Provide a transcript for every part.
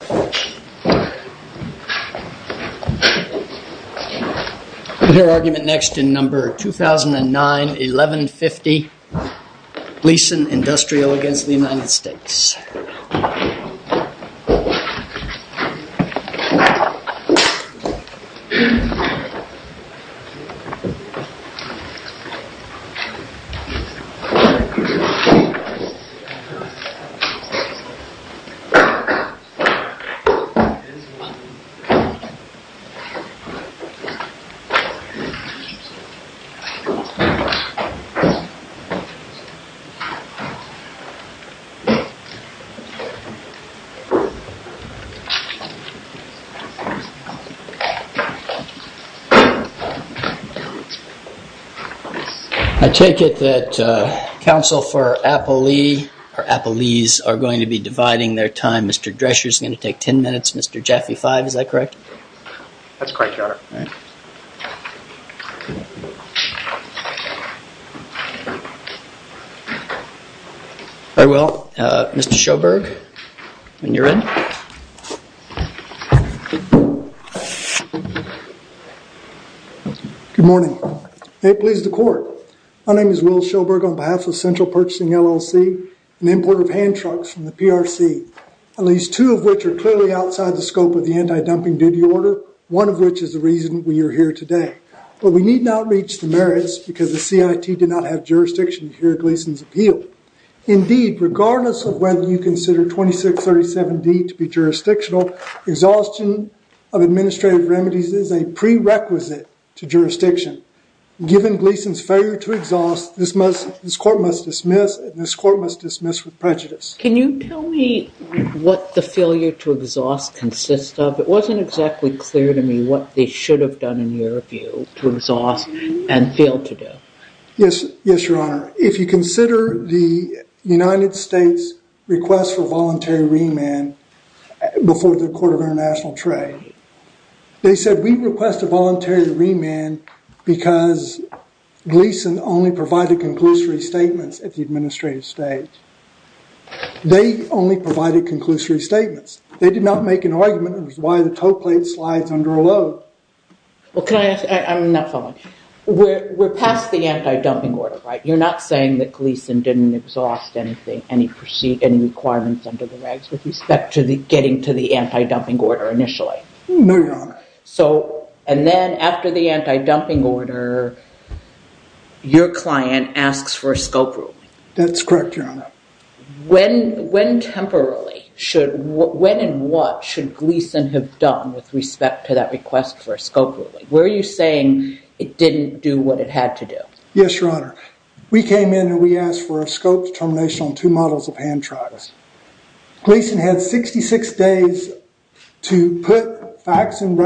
We hear argument next in number 2009-1150 Gleason Industrial v. United States. I take it that counsel for Applee, or Applee's, are going to be dividing their time. Mr. Drescher is going to take 10 minutes, Mr. Jaffe 5, is that correct? That's correct, your honor. All right. All right, well, Mr. Sjoberg, when you're ready. Good morning. May it please the court. My name is Will Sjoberg on behalf of Central Purchasing, LLC, and importer of hand trucks from the PRC. At least two of which are clearly outside the scope of the anti-dumping duty order, one of which is the reason we are here today. But we need not reach the merits because the CIT did not have jurisdiction to hear Gleason's appeal. Indeed, regardless of whether you consider 2637D to be jurisdictional, exhaustion of administrative remedies is a prerequisite to jurisdiction. Given Gleason's failure to exhaust, this court must dismiss, and this court must dismiss with prejudice. Can you tell me what the failure to exhaust consists of? It wasn't exactly clear to me what they should have done, in your view, to exhaust and fail to do. Yes, your honor. If you consider the United States' request for voluntary remand before the Court of International Trade, They said, we request a voluntary remand because Gleason only provided conclusory statements at the administrative stage. They only provided conclusory statements. They did not make an argument as to why the toe plate slides under a load. Well, can I ask, I'm not following. We're past the anti-dumping order, right? You're not saying that Gleason didn't exhaust anything, any requirements under the regs with respect to getting to the anti-dumping order initially? No, your honor. And then after the anti-dumping order, your client asks for a scope ruling? That's correct, your honor. When and what should Gleason have done with respect to that request for a scope ruling? Were you saying it didn't do what it had to do? Yes, your honor. We came in and we asked for a scope determination on two models of hand trials. Gleason had 66 days to put facts and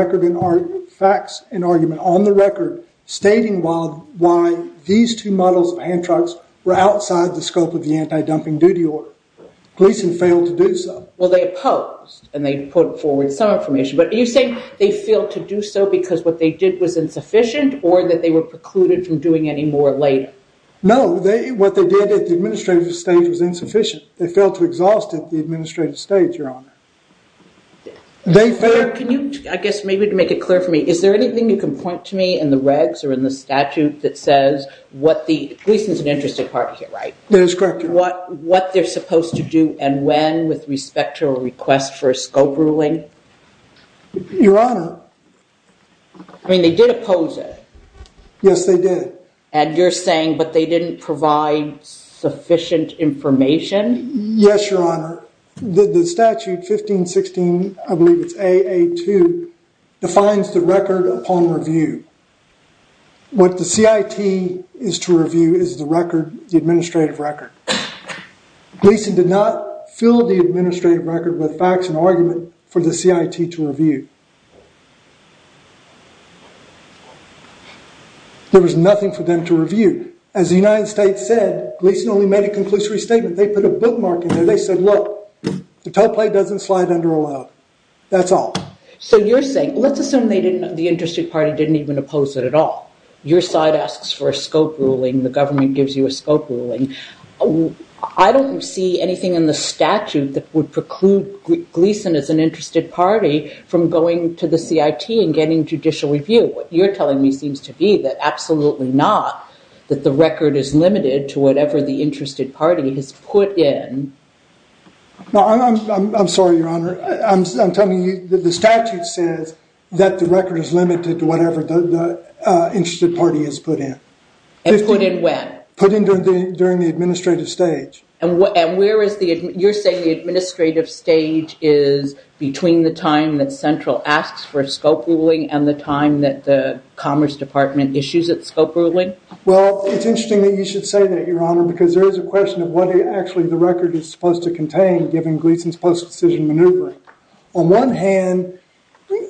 argument on the record, stating why these two models of hand trials were outside the scope of the anti-dumping duty order. Gleason failed to do so. Well, they opposed and they put forward some information, but are you saying they failed to do so because what they did was insufficient or that they were precluded from doing any more later? No, what they did at the administrative stage was insufficient. They failed to exhaust it at the administrative stage, your honor. I guess maybe to make it clear for me, is there anything you can point to me in the regs or in the statute that says what the – Gleason's an interesting part here, right? That is correct, your honor. What they're supposed to do and when with respect to a request for a scope ruling? Your honor. I mean, they did oppose it. Yes, they did. And you're saying, but they didn't provide sufficient information? Yes, your honor. The statute 1516, I believe it's AA2, defines the record upon review. What the CIT is to review is the record, the administrative record. Gleason did not fill the administrative record with facts and argument for the CIT to review. There was nothing for them to review. As the United States said, Gleason only made a conclusory statement. They put a bookmark in there. They said, look, the toe plate doesn't slide under allowed. That's all. So you're saying, let's assume the interested party didn't even oppose it at all. Your side asks for a scope ruling. The government gives you a scope ruling. I don't see anything in the statute that would preclude Gleason as an interested party from going to the CIT and getting judicial review. What you're telling me seems to be that absolutely not, that the record is limited to whatever the interested party has put in. I'm sorry, your honor. I'm telling you that the statute says that the record is limited to whatever the interested party has put in. And put in when? Put in during the administrative stage. And you're saying the administrative stage is between the time that Central asks for a scope ruling and the time that the Commerce Department issues its scope ruling? Well, it's interesting that you should say that, your honor, because there is a question of what actually the record is supposed to contain, given Gleason's post-decision maneuvering. On one hand,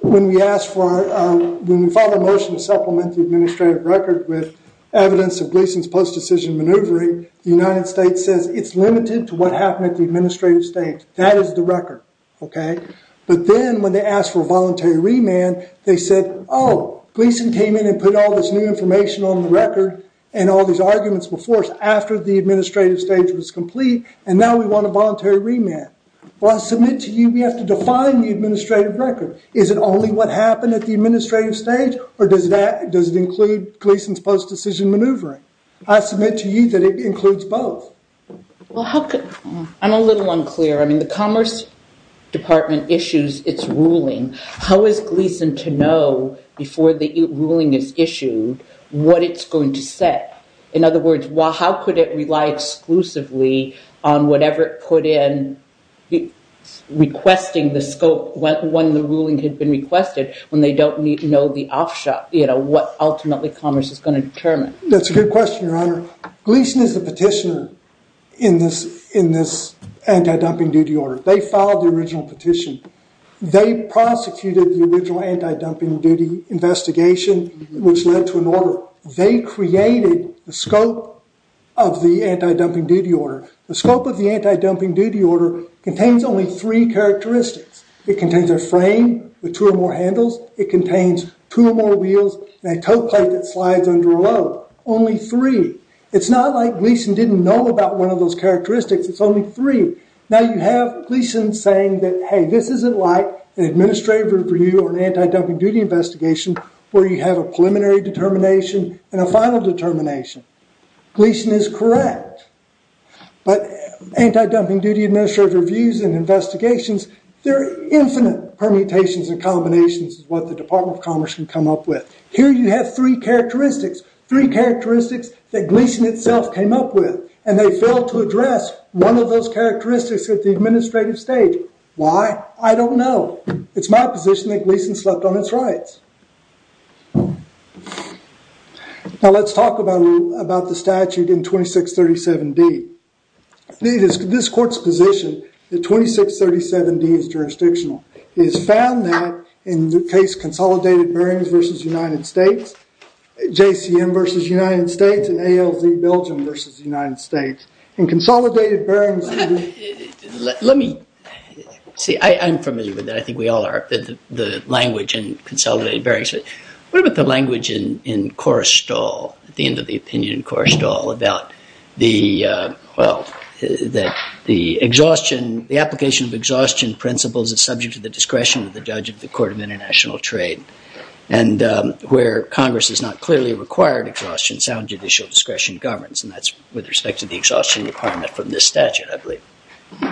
when we filed a motion to supplement the administrative record with evidence of Gleason's post-decision maneuvering, the United States says it's limited to what happened at the administrative stage. That is the record. But then when they asked for a voluntary remand, they said, oh, Gleason came in and put all this new information on the record, and all these arguments were forced after the administrative stage was complete, and now we want a voluntary remand. Well, I submit to you we have to define the administrative record. Is it only what happened at the administrative stage, or does it include Gleason's post-decision maneuvering? I submit to you that it includes both. Well, I'm a little unclear. I mean, the Commerce Department issues its ruling. How is Gleason to know before the ruling is issued what it's going to set? In other words, how could it rely exclusively on whatever it put in, requesting the scope when the ruling had been requested, when they don't know the offshot, you know, what ultimately Commerce is going to determine? That's a good question, Your Honor. Gleason is the petitioner in this anti-dumping duty order. They filed the original petition. They prosecuted the original anti-dumping duty investigation, which led to an order. They created the scope of the anti-dumping duty order. The scope of the anti-dumping duty order contains only three characteristics. It contains a frame with two or more handles. It contains two or more wheels and a tow plate that slides under a load. Only three. It's not like Gleason didn't know about one of those characteristics. It's only three. Now, you have Gleason saying that, hey, this isn't like an administrative review or an anti-dumping duty investigation where you have a preliminary determination and a final determination. Gleason is correct. But anti-dumping duty administrative reviews and investigations, they're infinite permutations and combinations of what the Department of Commerce can come up with. Here you have three characteristics, three characteristics that Gleason itself came up with, and they failed to address one of those characteristics at the administrative stage. Why? I don't know. It's my position that Gleason slept on its rights. Now, let's talk about the statute in 2637D. This court's position in 2637D is jurisdictional. It is found that in the case Consolidated Bearings v. United States, JCM v. United States and ALZ Belgium v. United States, in Consolidated Bearings. Let me see. I'm familiar with that. I think we all are. The language in Consolidated Bearings. What about the language in Korrestal, at the end of the opinion in Korrestal, about the, well, the exhaustion, the application of exhaustion principles that's subject to the discretion of the judge of the Court of International Trade and where Congress has not clearly required exhaustion, sound judicial discretion governs, and that's with respect to the exhaustion requirement from this statute, I believe.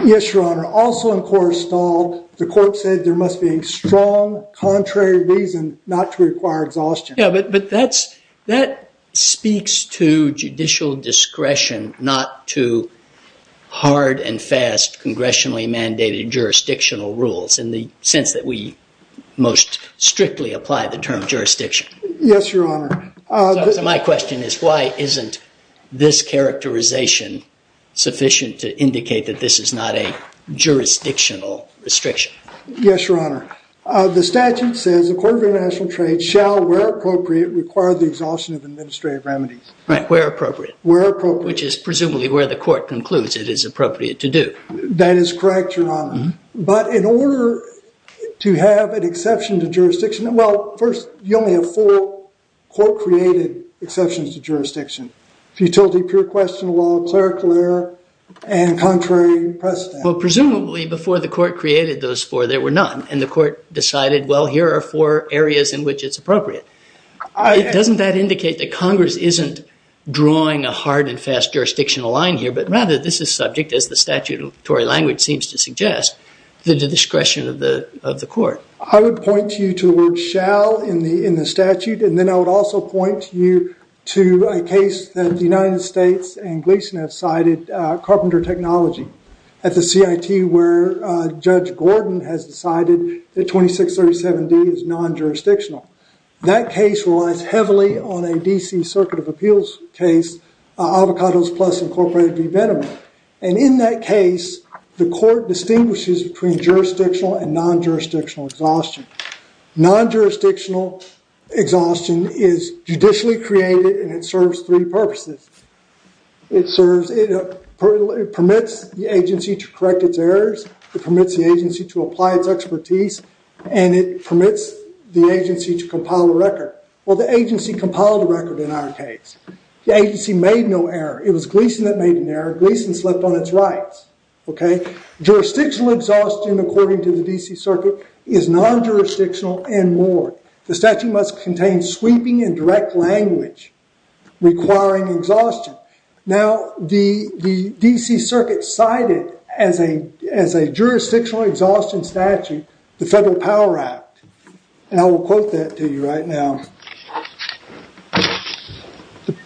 Yes, Your Honor. Also in Korrestal, the court said there must be a strong contrary reason not to require exhaustion. Yeah, but that speaks to judicial discretion not to hard and fast congressionally mandated jurisdictional rules in the sense that we most strictly apply the term jurisdiction. Yes, Your Honor. So my question is why isn't this characterization sufficient to indicate that this is not a jurisdictional restriction? Yes, Your Honor. The statute says the Court of International Trade shall, where appropriate, require the exhaustion of administrative remedies. Right, where appropriate. Where appropriate. Which is presumably where the court concludes it is appropriate to do. That is correct, Your Honor. But in order to have an exception to jurisdiction, well, first, you only have four court-created exceptions to jurisdiction. Futility, pure question, law, clerical error, and contrary precedent. Well, presumably before the court created those four, there were none, and the court decided, well, here are four areas in which it's appropriate. Doesn't that indicate that Congress isn't drawing a hard and fast jurisdictional line here, but rather this is subject, as the statutory language seems to suggest, to the discretion of the court? I would point you to the word shall in the statute, and then I would also point you to a case that the United States and Gleason have cited, Carpenter Technology, at the CIT, where Judge Gordon has decided that 2637D is non-jurisdictional. That case relies heavily on a D.C. Circuit of Appeals case, Avocados Plus Incorporated v. Veneman. And in that case, the court distinguishes between jurisdictional and non-jurisdictional exhaustion. Non-jurisdictional exhaustion is judicially created, and it serves three purposes. It permits the agency to correct its errors, it permits the agency to apply its expertise, and it permits the agency to compile a record. Well, the agency compiled a record in our case. The agency made no error. It was Gleason that made an error. Gleason slept on its rights. Jurisdictional exhaustion, according to the D.C. Circuit, is non-jurisdictional and more. The statute must contain sweeping and direct language requiring exhaustion. Now, the D.C. Circuit cited as a jurisdictional exhaustion statute the Federal Power Act. And I will quote that to you right now.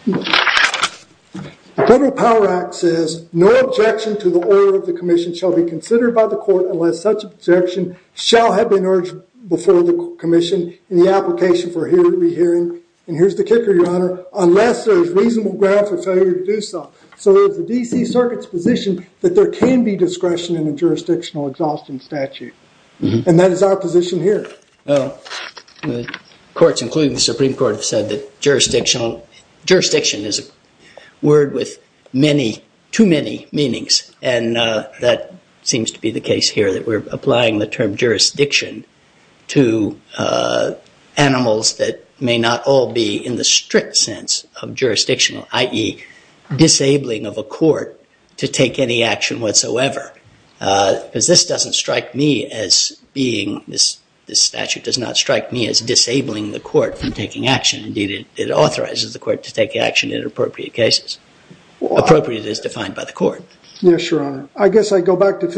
The Federal Power Act says, No objection to the order of the commission shall be considered by the court unless such objection shall have been urged before the commission in the application for here to be hearing. And here's the kicker, Your Honor. Unless there is reasonable ground for failure to do so. So it's the D.C. Circuit's position that there can be discretion in a jurisdictional exhaustion statute. And that is our position here. Courts, including the Supreme Court, have said that jurisdiction is a word with many, too many meanings. And that seems to be the case here, that we're applying the term jurisdiction to animals that may not all be in the strict sense of jurisdictional, i.e. disabling of a court to take any action whatsoever. Because this doesn't strike me as being, this statute does not strike me as disabling the court from taking action. Indeed, it authorizes the court to take action in appropriate cases. Appropriate as defined by the court. Yes, Your Honor. I guess I go back to the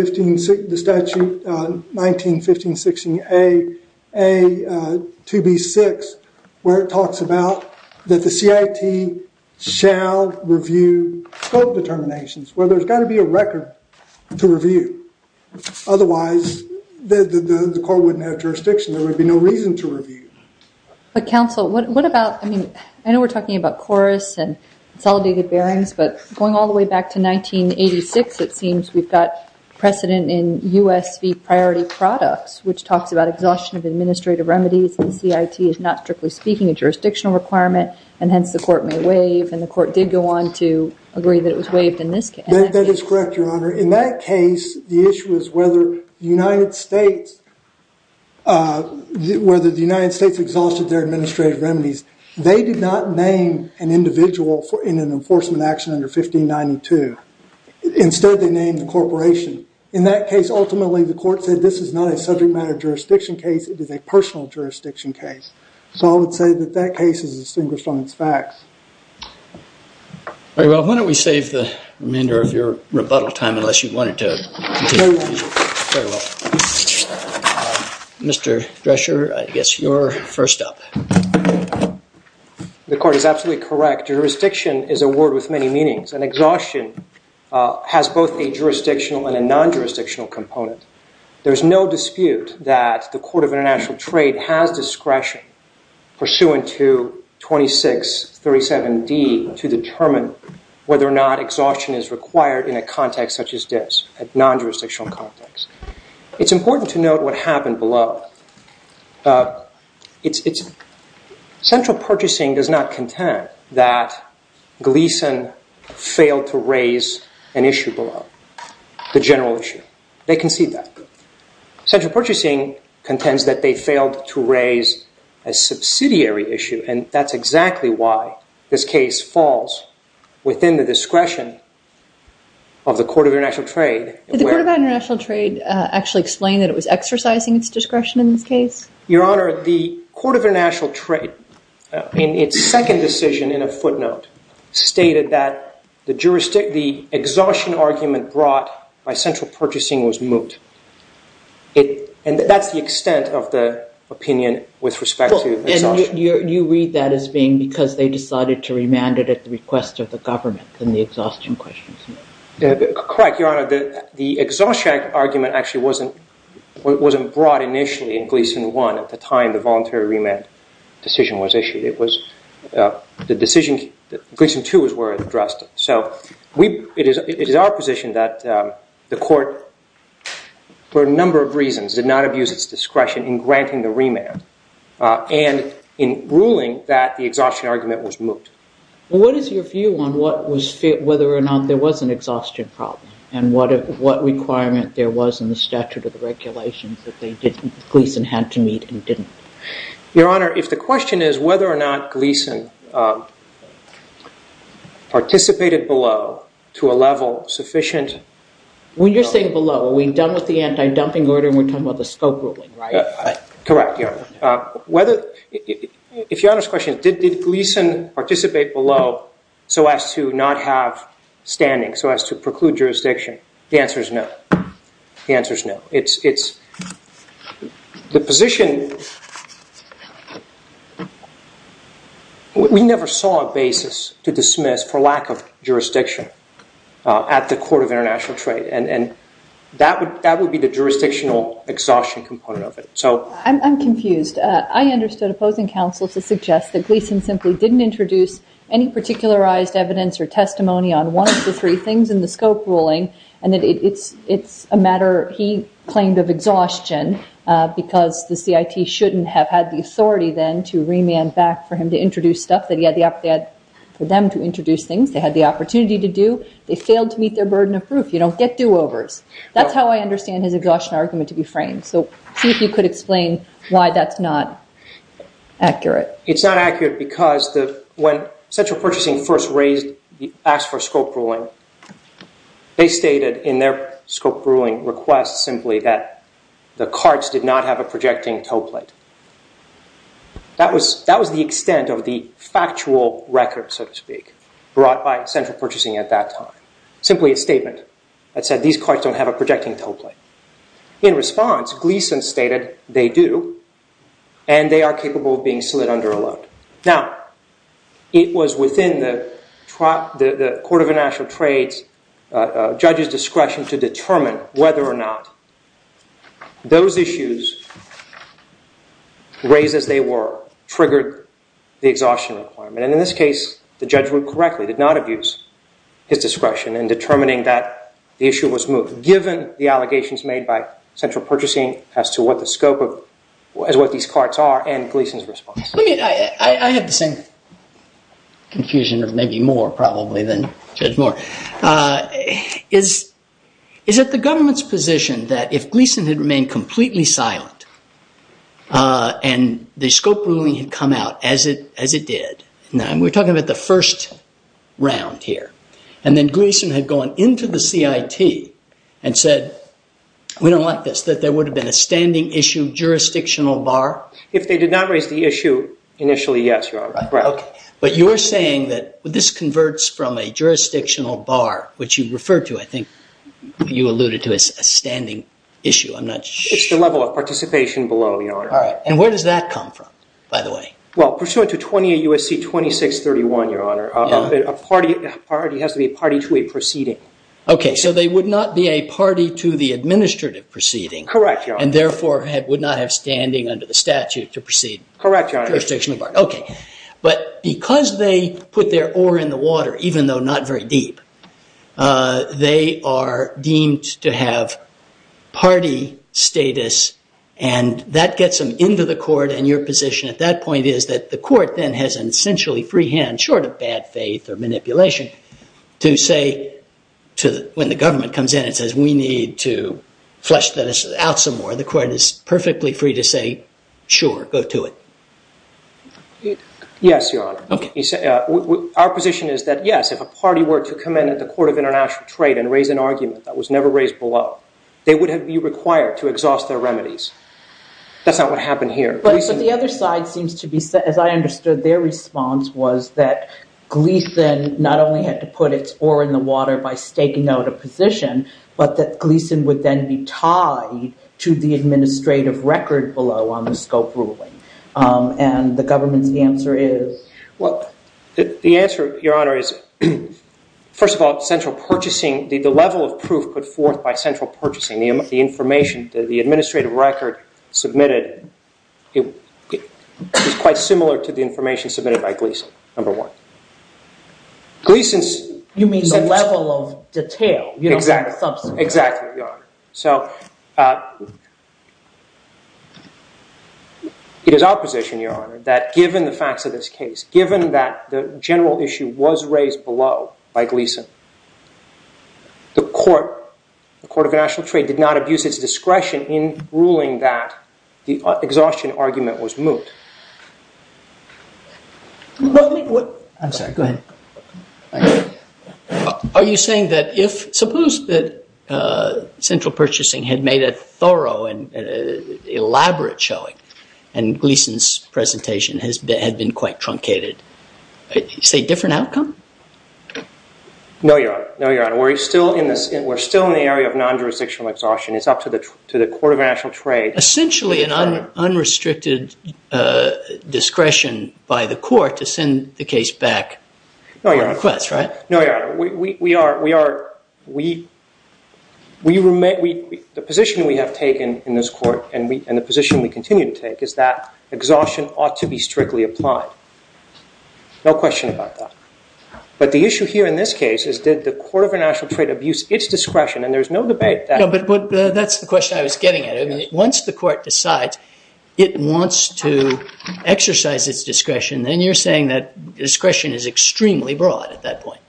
statute 19-15-16-A, 2B-6, where it talks about that the CIT shall review scope determinations. Where there's got to be a record to review. Otherwise, the court wouldn't have jurisdiction. But, counsel, what about, I mean, I know we're talking about chorus and consolidated bearings, but going all the way back to 1986, it seems we've got precedent in U.S. V. Priority Products, which talks about exhaustion of administrative remedies, and CIT is not, strictly speaking, a jurisdictional requirement, and hence the court may waive. And the court did go on to agree that it was waived in this case. That is correct, Your Honor. In that case, the issue is whether the United States exhausted their administrative remedies. They did not name an individual in an enforcement action under 1592. Instead, they named the corporation. In that case, ultimately, the court said this is not a subject matter jurisdiction case. It is a personal jurisdiction case. So I would say that that case is distinguished on its facts. Very well. Why don't we save the remainder of your rebuttal time, unless you wanted to continue? Very well. Very well. Mr. Drescher, I guess you're first up. The court is absolutely correct. Jurisdiction is a word with many meanings, and exhaustion has both a jurisdictional and a non-jurisdictional component. There is no dispute that the Court of International Trade has discretion pursuant to 2637D to determine whether or not exhaustion is required in a context such as this, a non-jurisdictional context. It's important to note what happened below. Central Purchasing does not contend that Gleeson failed to raise an issue below, the general issue. They concede that. Central Purchasing contends that they failed to raise a subsidiary issue, and that's exactly why this case falls within the discretion of the Court of International Trade. Did the Court of International Trade actually explain that it was exercising its discretion in this case? Your Honor, the Court of International Trade, in its second decision in a footnote, stated that the exhaustion argument brought by Central Purchasing was moot, and that's the extent of the opinion with respect to exhaustion. You read that as being because they decided to remand it at the request of the government, and the exhaustion question is moot. Correct, Your Honor. The exhaustion argument actually wasn't brought initially in Gleeson 1 at the time the voluntary remand decision was issued. The decision in Gleeson 2 is where it was addressed. So it is our position that the Court, for a number of reasons, did not abuse its discretion in granting the remand, and in ruling that the exhaustion argument was moot. What is your view on whether or not there was an exhaustion problem, and what requirement there was in the statute of the regulations that Gleeson had to meet and didn't? Your Honor, if the question is whether or not Gleeson participated below to a level sufficient… When you're saying below, are we done with the anti-dumping order and we're talking about the scope ruling, right? Correct, Your Honor. If Your Honor's question is did Gleeson participate below so as to not have standing, so as to preclude jurisdiction, the answer is no. The answer is no. The position… We never saw a basis to dismiss for lack of jurisdiction at the Court of International Trade, and that would be the jurisdictional exhaustion component of it. I'm confused. I understood opposing counsel to suggest that Gleeson simply didn't introduce any particularized evidence or testimony on one of the three things in the scope ruling, and that it's a matter he claimed of exhaustion because the CIT shouldn't have had the authority then to remand back for him to introduce stuff that he had the… for them to introduce things they had the opportunity to do. They failed to meet their burden of proof. You don't get do-overs. That's how I understand his exhaustion argument to be framed. So see if you could explain why that's not accurate. It's not accurate because when Central Purchasing first raised… asked for scope ruling, they stated in their scope ruling request simply that the carts did not have a projecting tow plate. That was the extent of the factual record, so to speak, brought by Central Purchasing at that time. Simply a statement that said these carts don't have a projecting tow plate. In response, Gleeson stated they do, and they are capable of being slid under a load. Now, it was within the Court of International Trade's judge's discretion to determine whether or not those issues, raised as they were, triggered the exhaustion requirement. And in this case, the judge ruled correctly, did not abuse his discretion in determining that the issue was moved. So given the allegations made by Central Purchasing as to what these carts are and Gleeson's response. I have the same confusion, or maybe more probably, than Judge Moore. Is it the government's position that if Gleeson had remained completely silent and the scope ruling had come out as it did, and we're talking about the first round here, and then Gleeson had gone into the CIT and said, we don't like this, that there would have been a standing issue jurisdictional bar? If they did not raise the issue, initially, yes, Your Honor. But you're saying that this converts from a jurisdictional bar, which you referred to, I think, you alluded to as a standing issue. It's the level of participation below, Your Honor. And where does that come from, by the way? Well, pursuant to 28 U.S.C. 2631, Your Honor, a party has to be a party to a proceeding. OK. So they would not be a party to the administrative proceeding. Correct, Your Honor. And therefore, would not have standing under the statute to proceed. Correct, Your Honor. OK. But because they put their oar in the water, even though not very deep, they are deemed to have party status. And that gets them into the court. And your position at that point is that the court then has an essentially free hand, short of bad faith or manipulation, to say, when the government comes in and says, we need to flesh this out some more, the court is perfectly free to say, sure, go to it. Yes, Your Honor. OK. Our position is that, yes, if a party were to come in at the Court of International Trade and raise an argument that was never raised below, they would be required to exhaust their remedies. That's not what happened here. But the other side seems to be, as I understood their response, was that Gleeson not only had to put its oar in the water by staking out a position, but that Gleeson would then be tied to the administrative record below on the scope ruling. And the government's answer is? Well, the answer, Your Honor, is, first of all, central purchasing, the level of proof put forth by central purchasing, the information, the administrative record submitted is quite similar to the information submitted by Gleeson, number one. You mean the level of detail? Exactly. Exactly, Your Honor. So it is opposition, Your Honor, that given the facts of this case, given that the general issue was raised below by Gleeson, the Court of International Trade did not abuse its discretion in ruling that the exhaustion argument was moot. I'm sorry, go ahead. Are you saying that if, suppose that central purchasing had made a thorough and elaborate showing and Gleeson's presentation had been quite truncated, is there a different outcome? No, Your Honor. No, Your Honor. We're still in the area of non-jurisdictional exhaustion. It's up to the Court of International Trade. Essentially an unrestricted discretion by the court to send the case back on request, right? No, Your Honor. Your Honor, the position we have taken in this court and the position we continue to take is that exhaustion ought to be strictly applied. No question about that. But the issue here in this case is did the Court of International Trade abuse its discretion? And there's no debate. That's the question I was getting at. Once the court decides it wants to exercise its discretion, then you're saying that discretion is extremely broad at that point.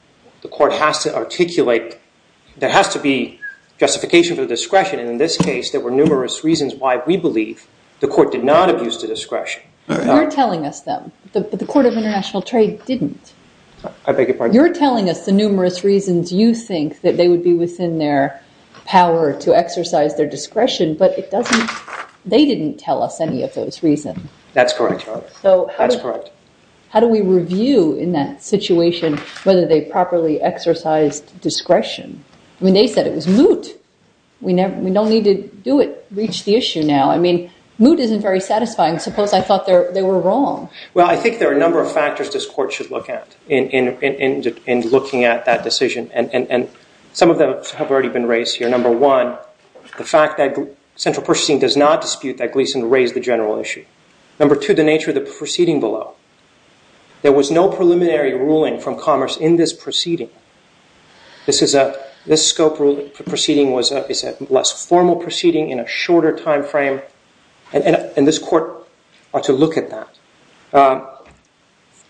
The court has to articulate, there has to be justification for discretion, and in this case there were numerous reasons why we believe the court did not abuse the discretion. You're telling us, though, the Court of International Trade didn't. I beg your pardon? You're telling us the numerous reasons you think that they would be within their power to exercise their discretion, but they didn't tell us any of those reasons. That's correct, Your Honor. That's correct. So how do we review in that situation whether they properly exercised discretion? I mean, they said it was moot. We don't need to do it, reach the issue now. I mean, moot isn't very satisfying. Suppose I thought they were wrong. Well, I think there are a number of factors this court should look at in looking at that decision, and some of them have already been raised here. Number one, the fact that central purchasing does not dispute that Gleeson raised the general issue. Number two, the nature of the proceeding below. There was no preliminary ruling from commerce in this proceeding. This scope of the proceeding is a less formal proceeding in a shorter time frame, and this court ought to look at that.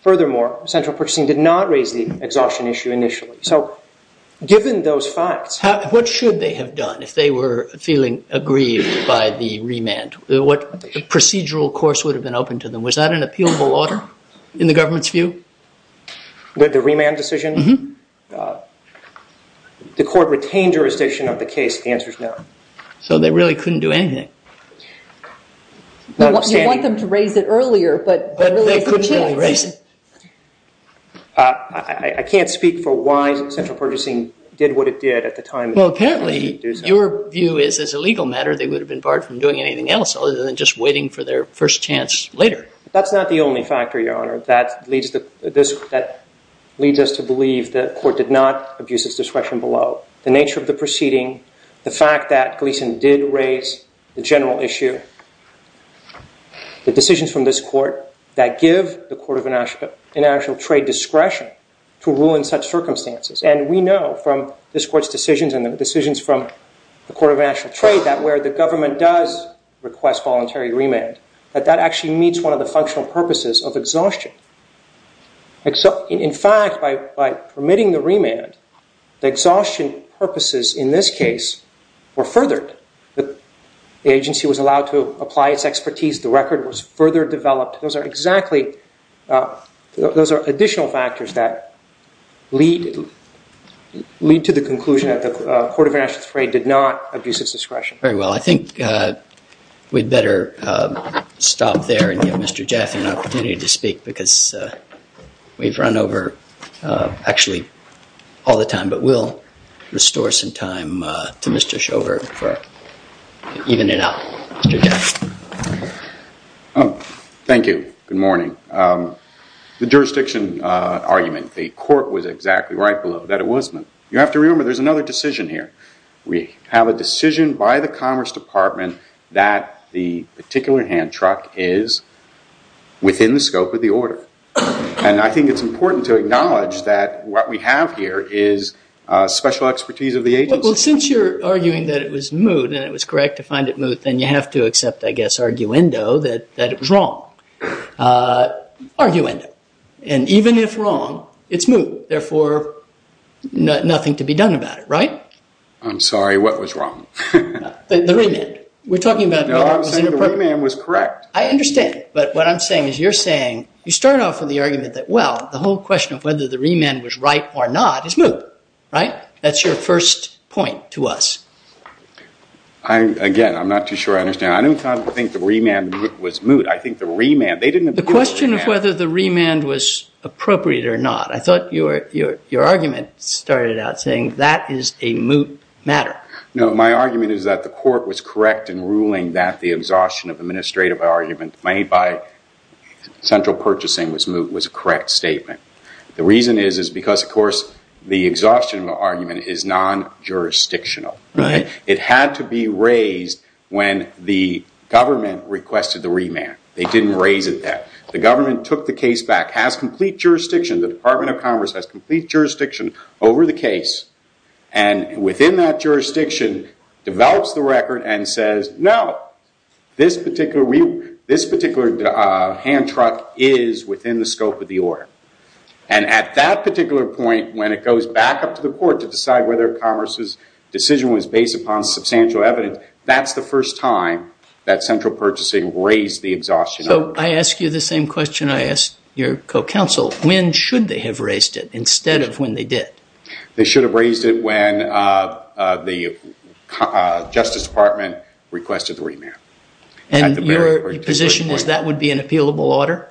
Furthermore, central purchasing did not raise the exhaustion issue initially. So given those facts... What should they have done if they were feeling aggrieved by the remand? What procedural course would have been open to them? Was that an appealable order in the government's view? The remand decision? Mm-hmm. The court retained jurisdiction of the case. The answer is no. So they really couldn't do anything. You want them to raise it earlier, but... They couldn't really raise it. I can't speak for why central purchasing did what it did at the time... Well, apparently your view is as a legal matter they would have been barred from doing anything else other than just waiting for their first chance later. That's not the only factor, Your Honor, that leads us to believe the court did not abuse its discretion below. The nature of the proceeding, the fact that Gleeson did raise the general issue, the decisions from this court that give the Court of International Trade discretion to rule in such circumstances. And we know from this court's decisions and the decisions from the Court of International Trade that where the government does request voluntary remand, that that actually meets one of the functional purposes of exhaustion. In fact, by permitting the remand, the exhaustion purposes in this case were furthered. The agency was allowed to apply its expertise. The record was further developed. Those are additional factors that lead to the conclusion that the Court of International Trade did not abuse its discretion. Very well. I think we'd better stop there and give Mr. Jaffe an opportunity to speak because we've run over, actually, all the time. But we'll restore some time to Mr. Schover to even it out. Mr. Jaffe. Thank you. Good morning. The jurisdiction argument, the court was exactly right below that it was moot. You have to remember there's another decision here. We have a decision by the Commerce Department that the particular hand truck is within the scope of the order. And I think it's important to acknowledge that what we have here is special expertise of the agency. Well, since you're arguing that it was moot and it was correct to find it moot, then you have to accept, I guess, arguendo that it was wrong. Arguendo. And even if wrong, it's moot. Therefore, nothing to be done about it, right? I'm sorry. What was wrong? The remand. No, I'm saying the remand was correct. I understand. But what I'm saying is you're saying you start off with the argument that, well, the whole question of whether the remand was right or not is moot, right? That's your first point to us. Again, I'm not too sure I understand. I don't think the remand was moot. I think the remand. The question of whether the remand was appropriate or not. I thought your argument started out saying that is a moot matter. No, my argument is that the court was correct in ruling that the exhaustion of administrative argument made by central purchasing was moot, was a correct statement. The reason is because, of course, the exhaustion of the argument is non-jurisdictional. Right. It had to be raised when the government requested the remand. They didn't raise it then. The government took the case back, has complete jurisdiction. The Department of Commerce has complete jurisdiction over the case, and within that jurisdiction, develops the record and says, no, this particular hand truck is within the scope of the order. And at that particular point, when it goes back up to the court to decide whether Commerce's decision was based upon substantial evidence, that's the first time that central purchasing raised the exhaustion argument. So I ask you the same question I ask your co-counsel. When should they have raised it instead of when they did? They should have raised it when the Justice Department requested the remand. And your position is that would be an appealable order,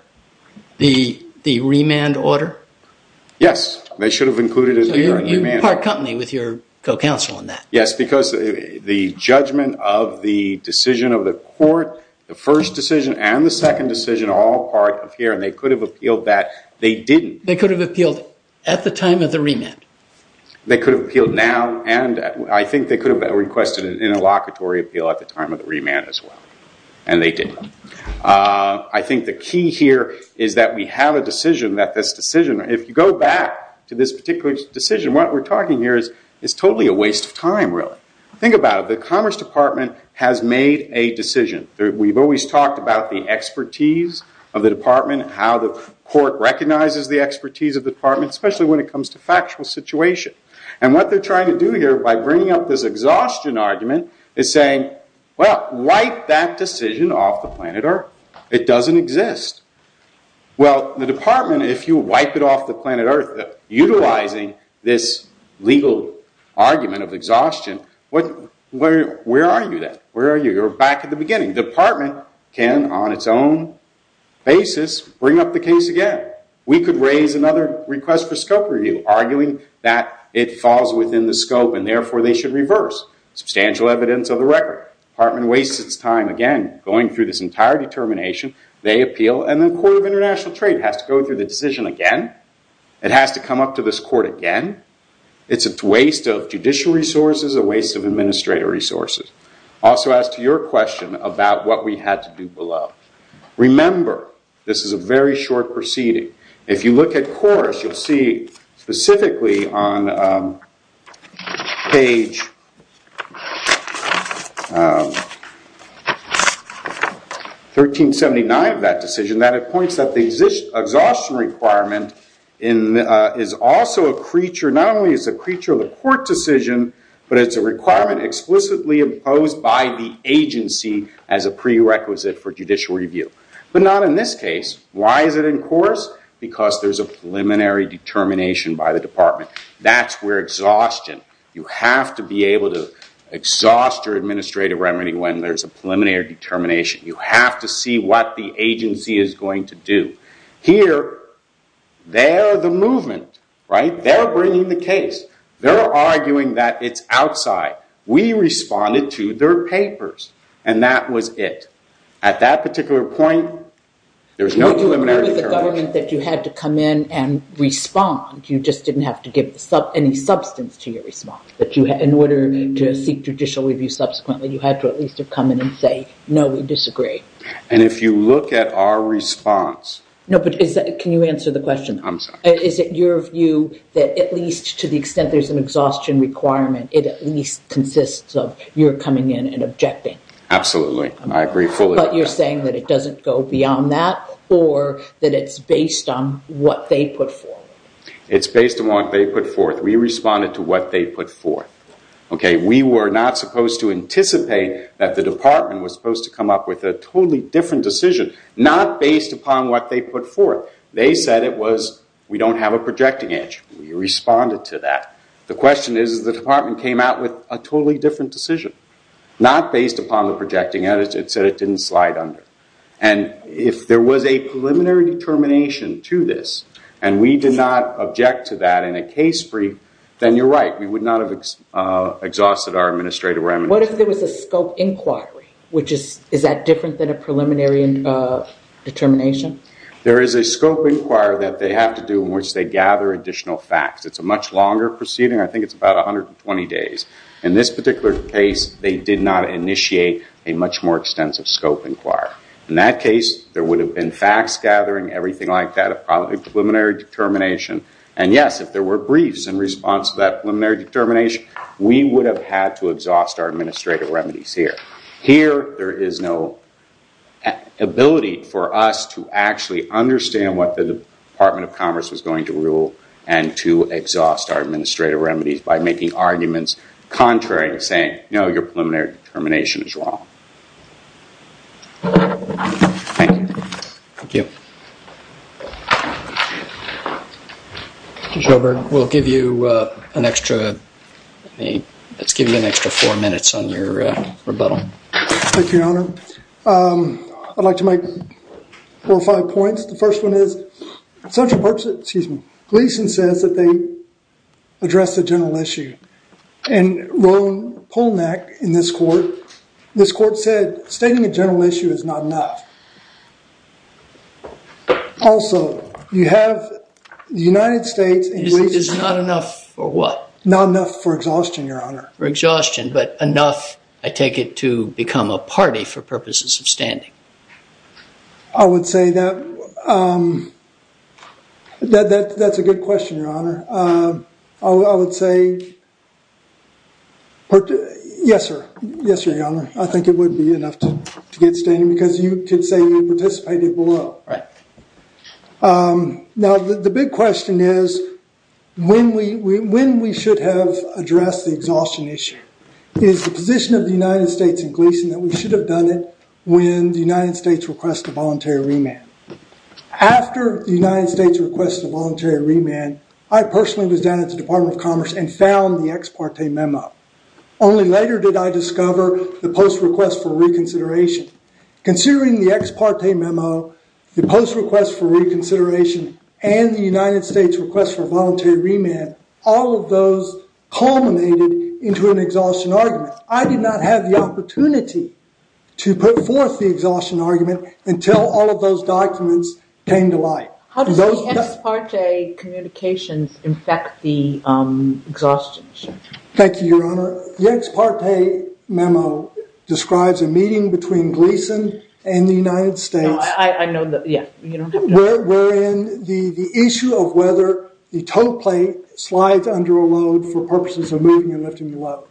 the remand order? Yes. They should have included it. So you part company with your co-counsel on that. Yes, because the judgment of the decision of the court, the first decision and the second decision are all part of here, and they could have appealed that. They didn't. They could have appealed at the time of the remand. They could have appealed now, and I think they could have requested an interlocutory appeal at the time of the remand as well, and they didn't. I think the key here is that we have a decision that this decision, if you go back to this particular decision, what we're talking here is it's totally a waste of time, really. Think about it. The Commerce Department has made a decision. We've always talked about the expertise of the department and how the court recognizes the expertise of the department, especially when it comes to factual situation. And what they're trying to do here by bringing up this exhaustion argument is saying, well, wipe that decision off the planet Earth. It doesn't exist. Well, the department, if you wipe it off the planet Earth, utilizing this legal argument of exhaustion, where are you then? Where are you? You're back at the beginning. The department can, on its own basis, bring up the case again. We could raise another request for scope review, arguing that it falls within the scope and, therefore, they should reverse. Substantial evidence of the record. The department wastes its time, again, going through this entire determination. They appeal, and the Court of International Trade has to go through the decision again. It has to come up to this court again. It's a waste of judicial resources, a waste of administrative resources. Also, as to your question about what we had to do below. Remember, this is a very short proceeding. If you look at chorus, you'll see specifically on page 1379 of that decision that it points that the exhaustion requirement is also a creature. Not only is it a creature of the court decision, but it's a requirement explicitly imposed by the agency as a prerequisite for judicial review. But not in this case. Why is it in chorus? Because there's a preliminary determination by the department. That's where exhaustion. You have to be able to exhaust your administrative remedy when there's a preliminary determination. You have to see what the agency is going to do. Here, they're the movement. They're bringing the case. They're arguing that it's outside. We responded to their papers, and that was it. At that particular point, there's no preliminary determination. You had to come in and respond. You just didn't have to give any substance to your response. In order to seek judicial review subsequently, you had to at least come in and say, no, we disagree. If you look at our response. Can you answer the question? I'm sorry. Is it your view that at least to the extent there's an exhaustion requirement, it at least consists of your coming in and objecting? Absolutely. I agree fully with that. But you're saying that it doesn't go beyond that, or that it's based on what they put forth? It's based on what they put forth. We responded to what they put forth. We were not supposed to anticipate that the department was supposed to come up with a totally different decision, not based upon what they put forth. They said it was, we don't have a projecting edge. We responded to that. The question is, the department came out with a totally different decision, not based upon the projecting edge. It said it didn't slide under. And if there was a preliminary determination to this, and we did not object to that in a case brief, then you're right. We would not have exhausted our administrative remedy. What if there was a scope inquiry? Is that different than a preliminary determination? There is a scope inquiry that they have to do in which they gather additional facts. It's a much longer proceeding. I think it's about 120 days. In this particular case, they did not initiate a much more extensive scope inquiry. In that case, there would have been facts gathering, everything like that, a preliminary determination. And, yes, if there were briefs in response to that preliminary determination, we would have had to exhaust our administrative remedies here. Here, there is no ability for us to actually understand what the Department of Commerce was going to rule and to exhaust our administrative remedies by making arguments contrary to saying, no, your preliminary determination is wrong. Thank you. Thank you. Mr. Joberg, we'll give you an extra, let's give you an extra four minutes on your rebuttal. Thank you, Your Honor. I'd like to make four or five points. The first one is, Central Perks, excuse me, Gleason says that they addressed a general issue. And Rowan Polnack in this court, this court said stating a general issue is not enough. Also, you have the United States. It's not enough for what? Not enough for exhaustion, Your Honor. For exhaustion, but enough, I take it, to become a party for purposes of standing. I would say that, that's a good question, Your Honor. I would say, yes, sir, yes, Your Honor. I think it would be enough to get standing because you can say you participated below. Now, the big question is, when we should have addressed the exhaustion issue. It's the position of the United States and Gleason that we should have done it when the United States requested a voluntary remand. After the United States requested a voluntary remand, I personally was down at the Department of Commerce and found the ex parte memo. Only later did I discover the post request for reconsideration. Considering the ex parte memo, the post request for reconsideration, and the United States request for voluntary remand, all of those culminated into an exhaustion argument. I did not have the opportunity to put forth the exhaustion argument until all of those documents came to light. How does the ex parte communications affect the exhaustion issue? Thank you, Your Honor. The ex parte memo describes a meeting between Gleason and the United States. I know that, yeah. Wherein the issue of whether the tow plate slides under a load for purposes of moving and lifting the load.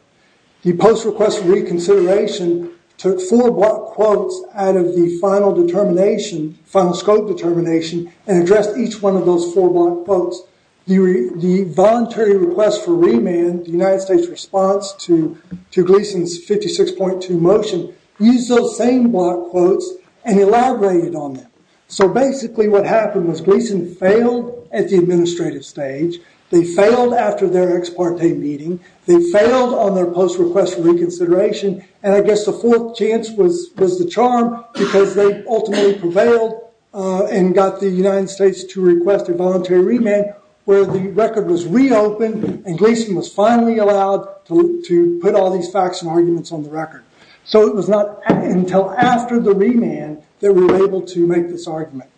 The post request for reconsideration took four block quotes out of the final determination, final scope determination, and addressed each one of those four block quotes. The voluntary request for remand, the United States response to Gleason's 56.2 motion, used those same block quotes and elaborated on them. So basically what happened was Gleason failed at the administrative stage. They failed after their ex parte meeting. They failed on their post request for reconsideration. I guess the fourth chance was the charm because they ultimately prevailed and got the United States to request a voluntary remand where the record was reopened and Gleason was finally allowed to put all these facts and arguments on the record. It was not until after the remand that we were able to make this argument.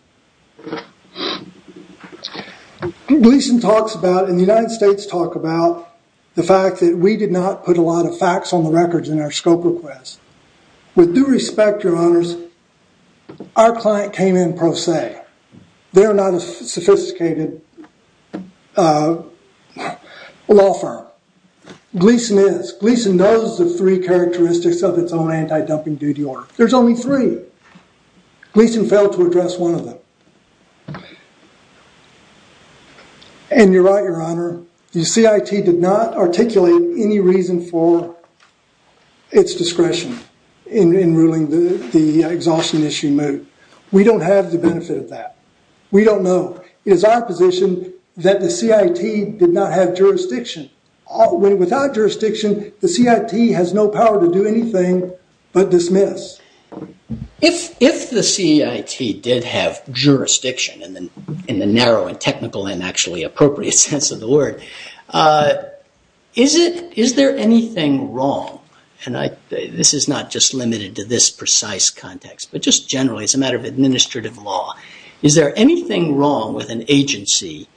Gleason talks about, and the United States talk about, the fact that we did not put a lot of facts on the records in our scope requests. With due respect, your honors, our client came in pro se. They are not a sophisticated law firm. Gleason is. Gleason knows the three characteristics of its own anti-dumping duty order. There's only three. Gleason failed to address one of them. And you're right, your honor, the CIT did not articulate any reason for its discretion in ruling the exhaustion issue moved. We don't have the benefit of that. We don't know. It is our position that the CIT did not have jurisdiction. Without jurisdiction, the CIT has no power to do anything but dismiss. If the CIT did have jurisdiction in the narrow and technical and actually appropriate sense of the word, is there anything wrong, and this is not just limited to this precise context, but just generally as a matter of administrative law, is there anything wrong with an agency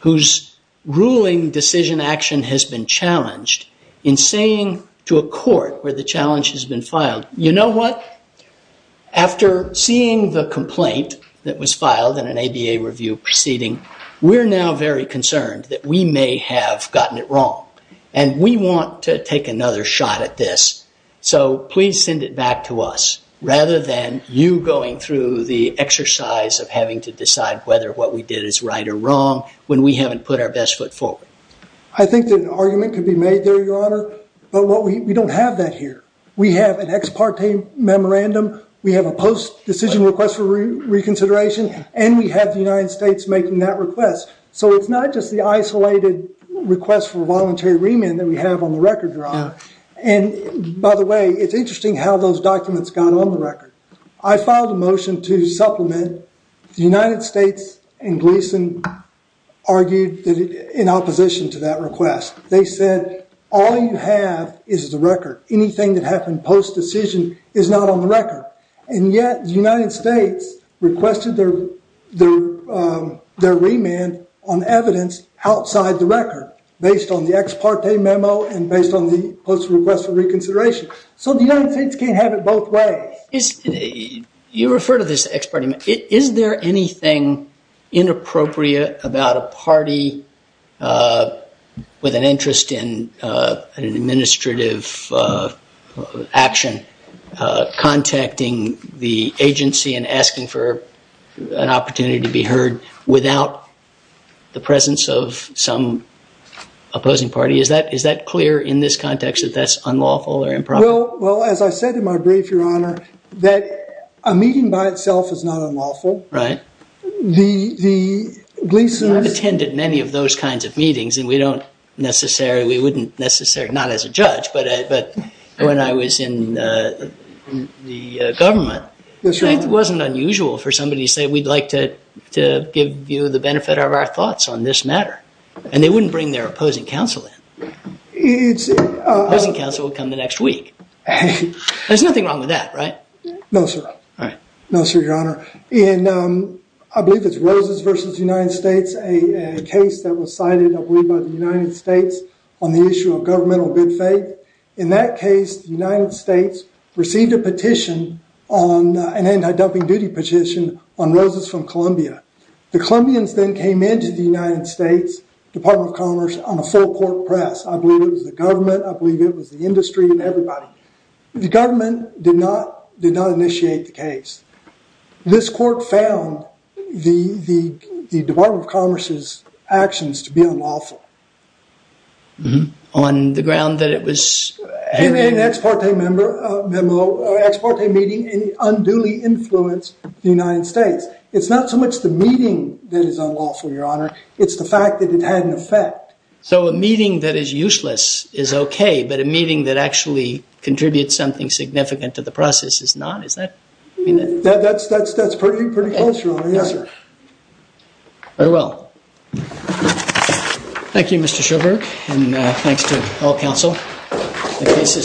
whose ruling decision action has been challenged in saying to a court where the challenge has been filed, you know what, after seeing the complaint that was filed in an ABA review proceeding, we're now very concerned that we may have gotten it wrong. And we want to take another shot at this. So please send it back to us rather than you going through the exercise of having to decide whether what we did is right or wrong when we haven't put our best foot forward. I think that an argument could be made there, your honor. But we don't have that here. We have an ex parte memorandum. We have a post decision request for reconsideration. And we have the United States making that request. So it's not just the isolated request for voluntary remand that we have on the record, your honor. And by the way, it's interesting how those documents got on the record. I filed a motion to supplement. The United States and Gleason argued in opposition to that request. They said all you have is the record. Anything that happened post decision is not on the record. And yet the United States requested their remand on evidence outside the record, based on the ex parte memo and based on the post request for reconsideration. So the United States can't have it both ways. You refer to this ex parte. Is there anything inappropriate about a party with an interest in an administrative action contacting the agency and asking for an opportunity to be heard without the presence of some opposing party? Is that clear in this context that that's unlawful or improper? Well, as I said in my brief, your honor, that a meeting by itself is not unlawful. Right. The Gleason's I've attended many of those kinds of meetings. And we don't necessarily, we wouldn't necessarily, not as a judge, but when I was in the government, it wasn't unusual for somebody to say we'd like to give you the benefit of our thoughts on this matter. And they wouldn't bring their opposing counsel in. It's Opposing counsel will come the next week. There's nothing wrong with that, right? No, sir. No, sir, your honor. And I believe it's Roses versus United States, a case that was cited, I believe, by the United States on the issue of governmental good faith. In that case, the United States received a petition on an anti-dumping duty petition on Roses from Columbia. The Columbians then came into the United States Department of Commerce on a full court press. I believe it was the government. I believe it was the industry and everybody. The government did not initiate the case. This court found the Department of Commerce's actions to be unlawful. On the ground that it was It made an ex parte meeting and unduly influenced the United States. It's not so much the meeting that is unlawful, your honor. It's the fact that it had an effect. So a meeting that is useless is okay, but a meeting that actually contributes something significant to the process is not? Is that? That's pretty close, your honor. Yes, sir. Very well. Thank you, Mr. Schoberg. And thanks to all counsel. The case is submitted.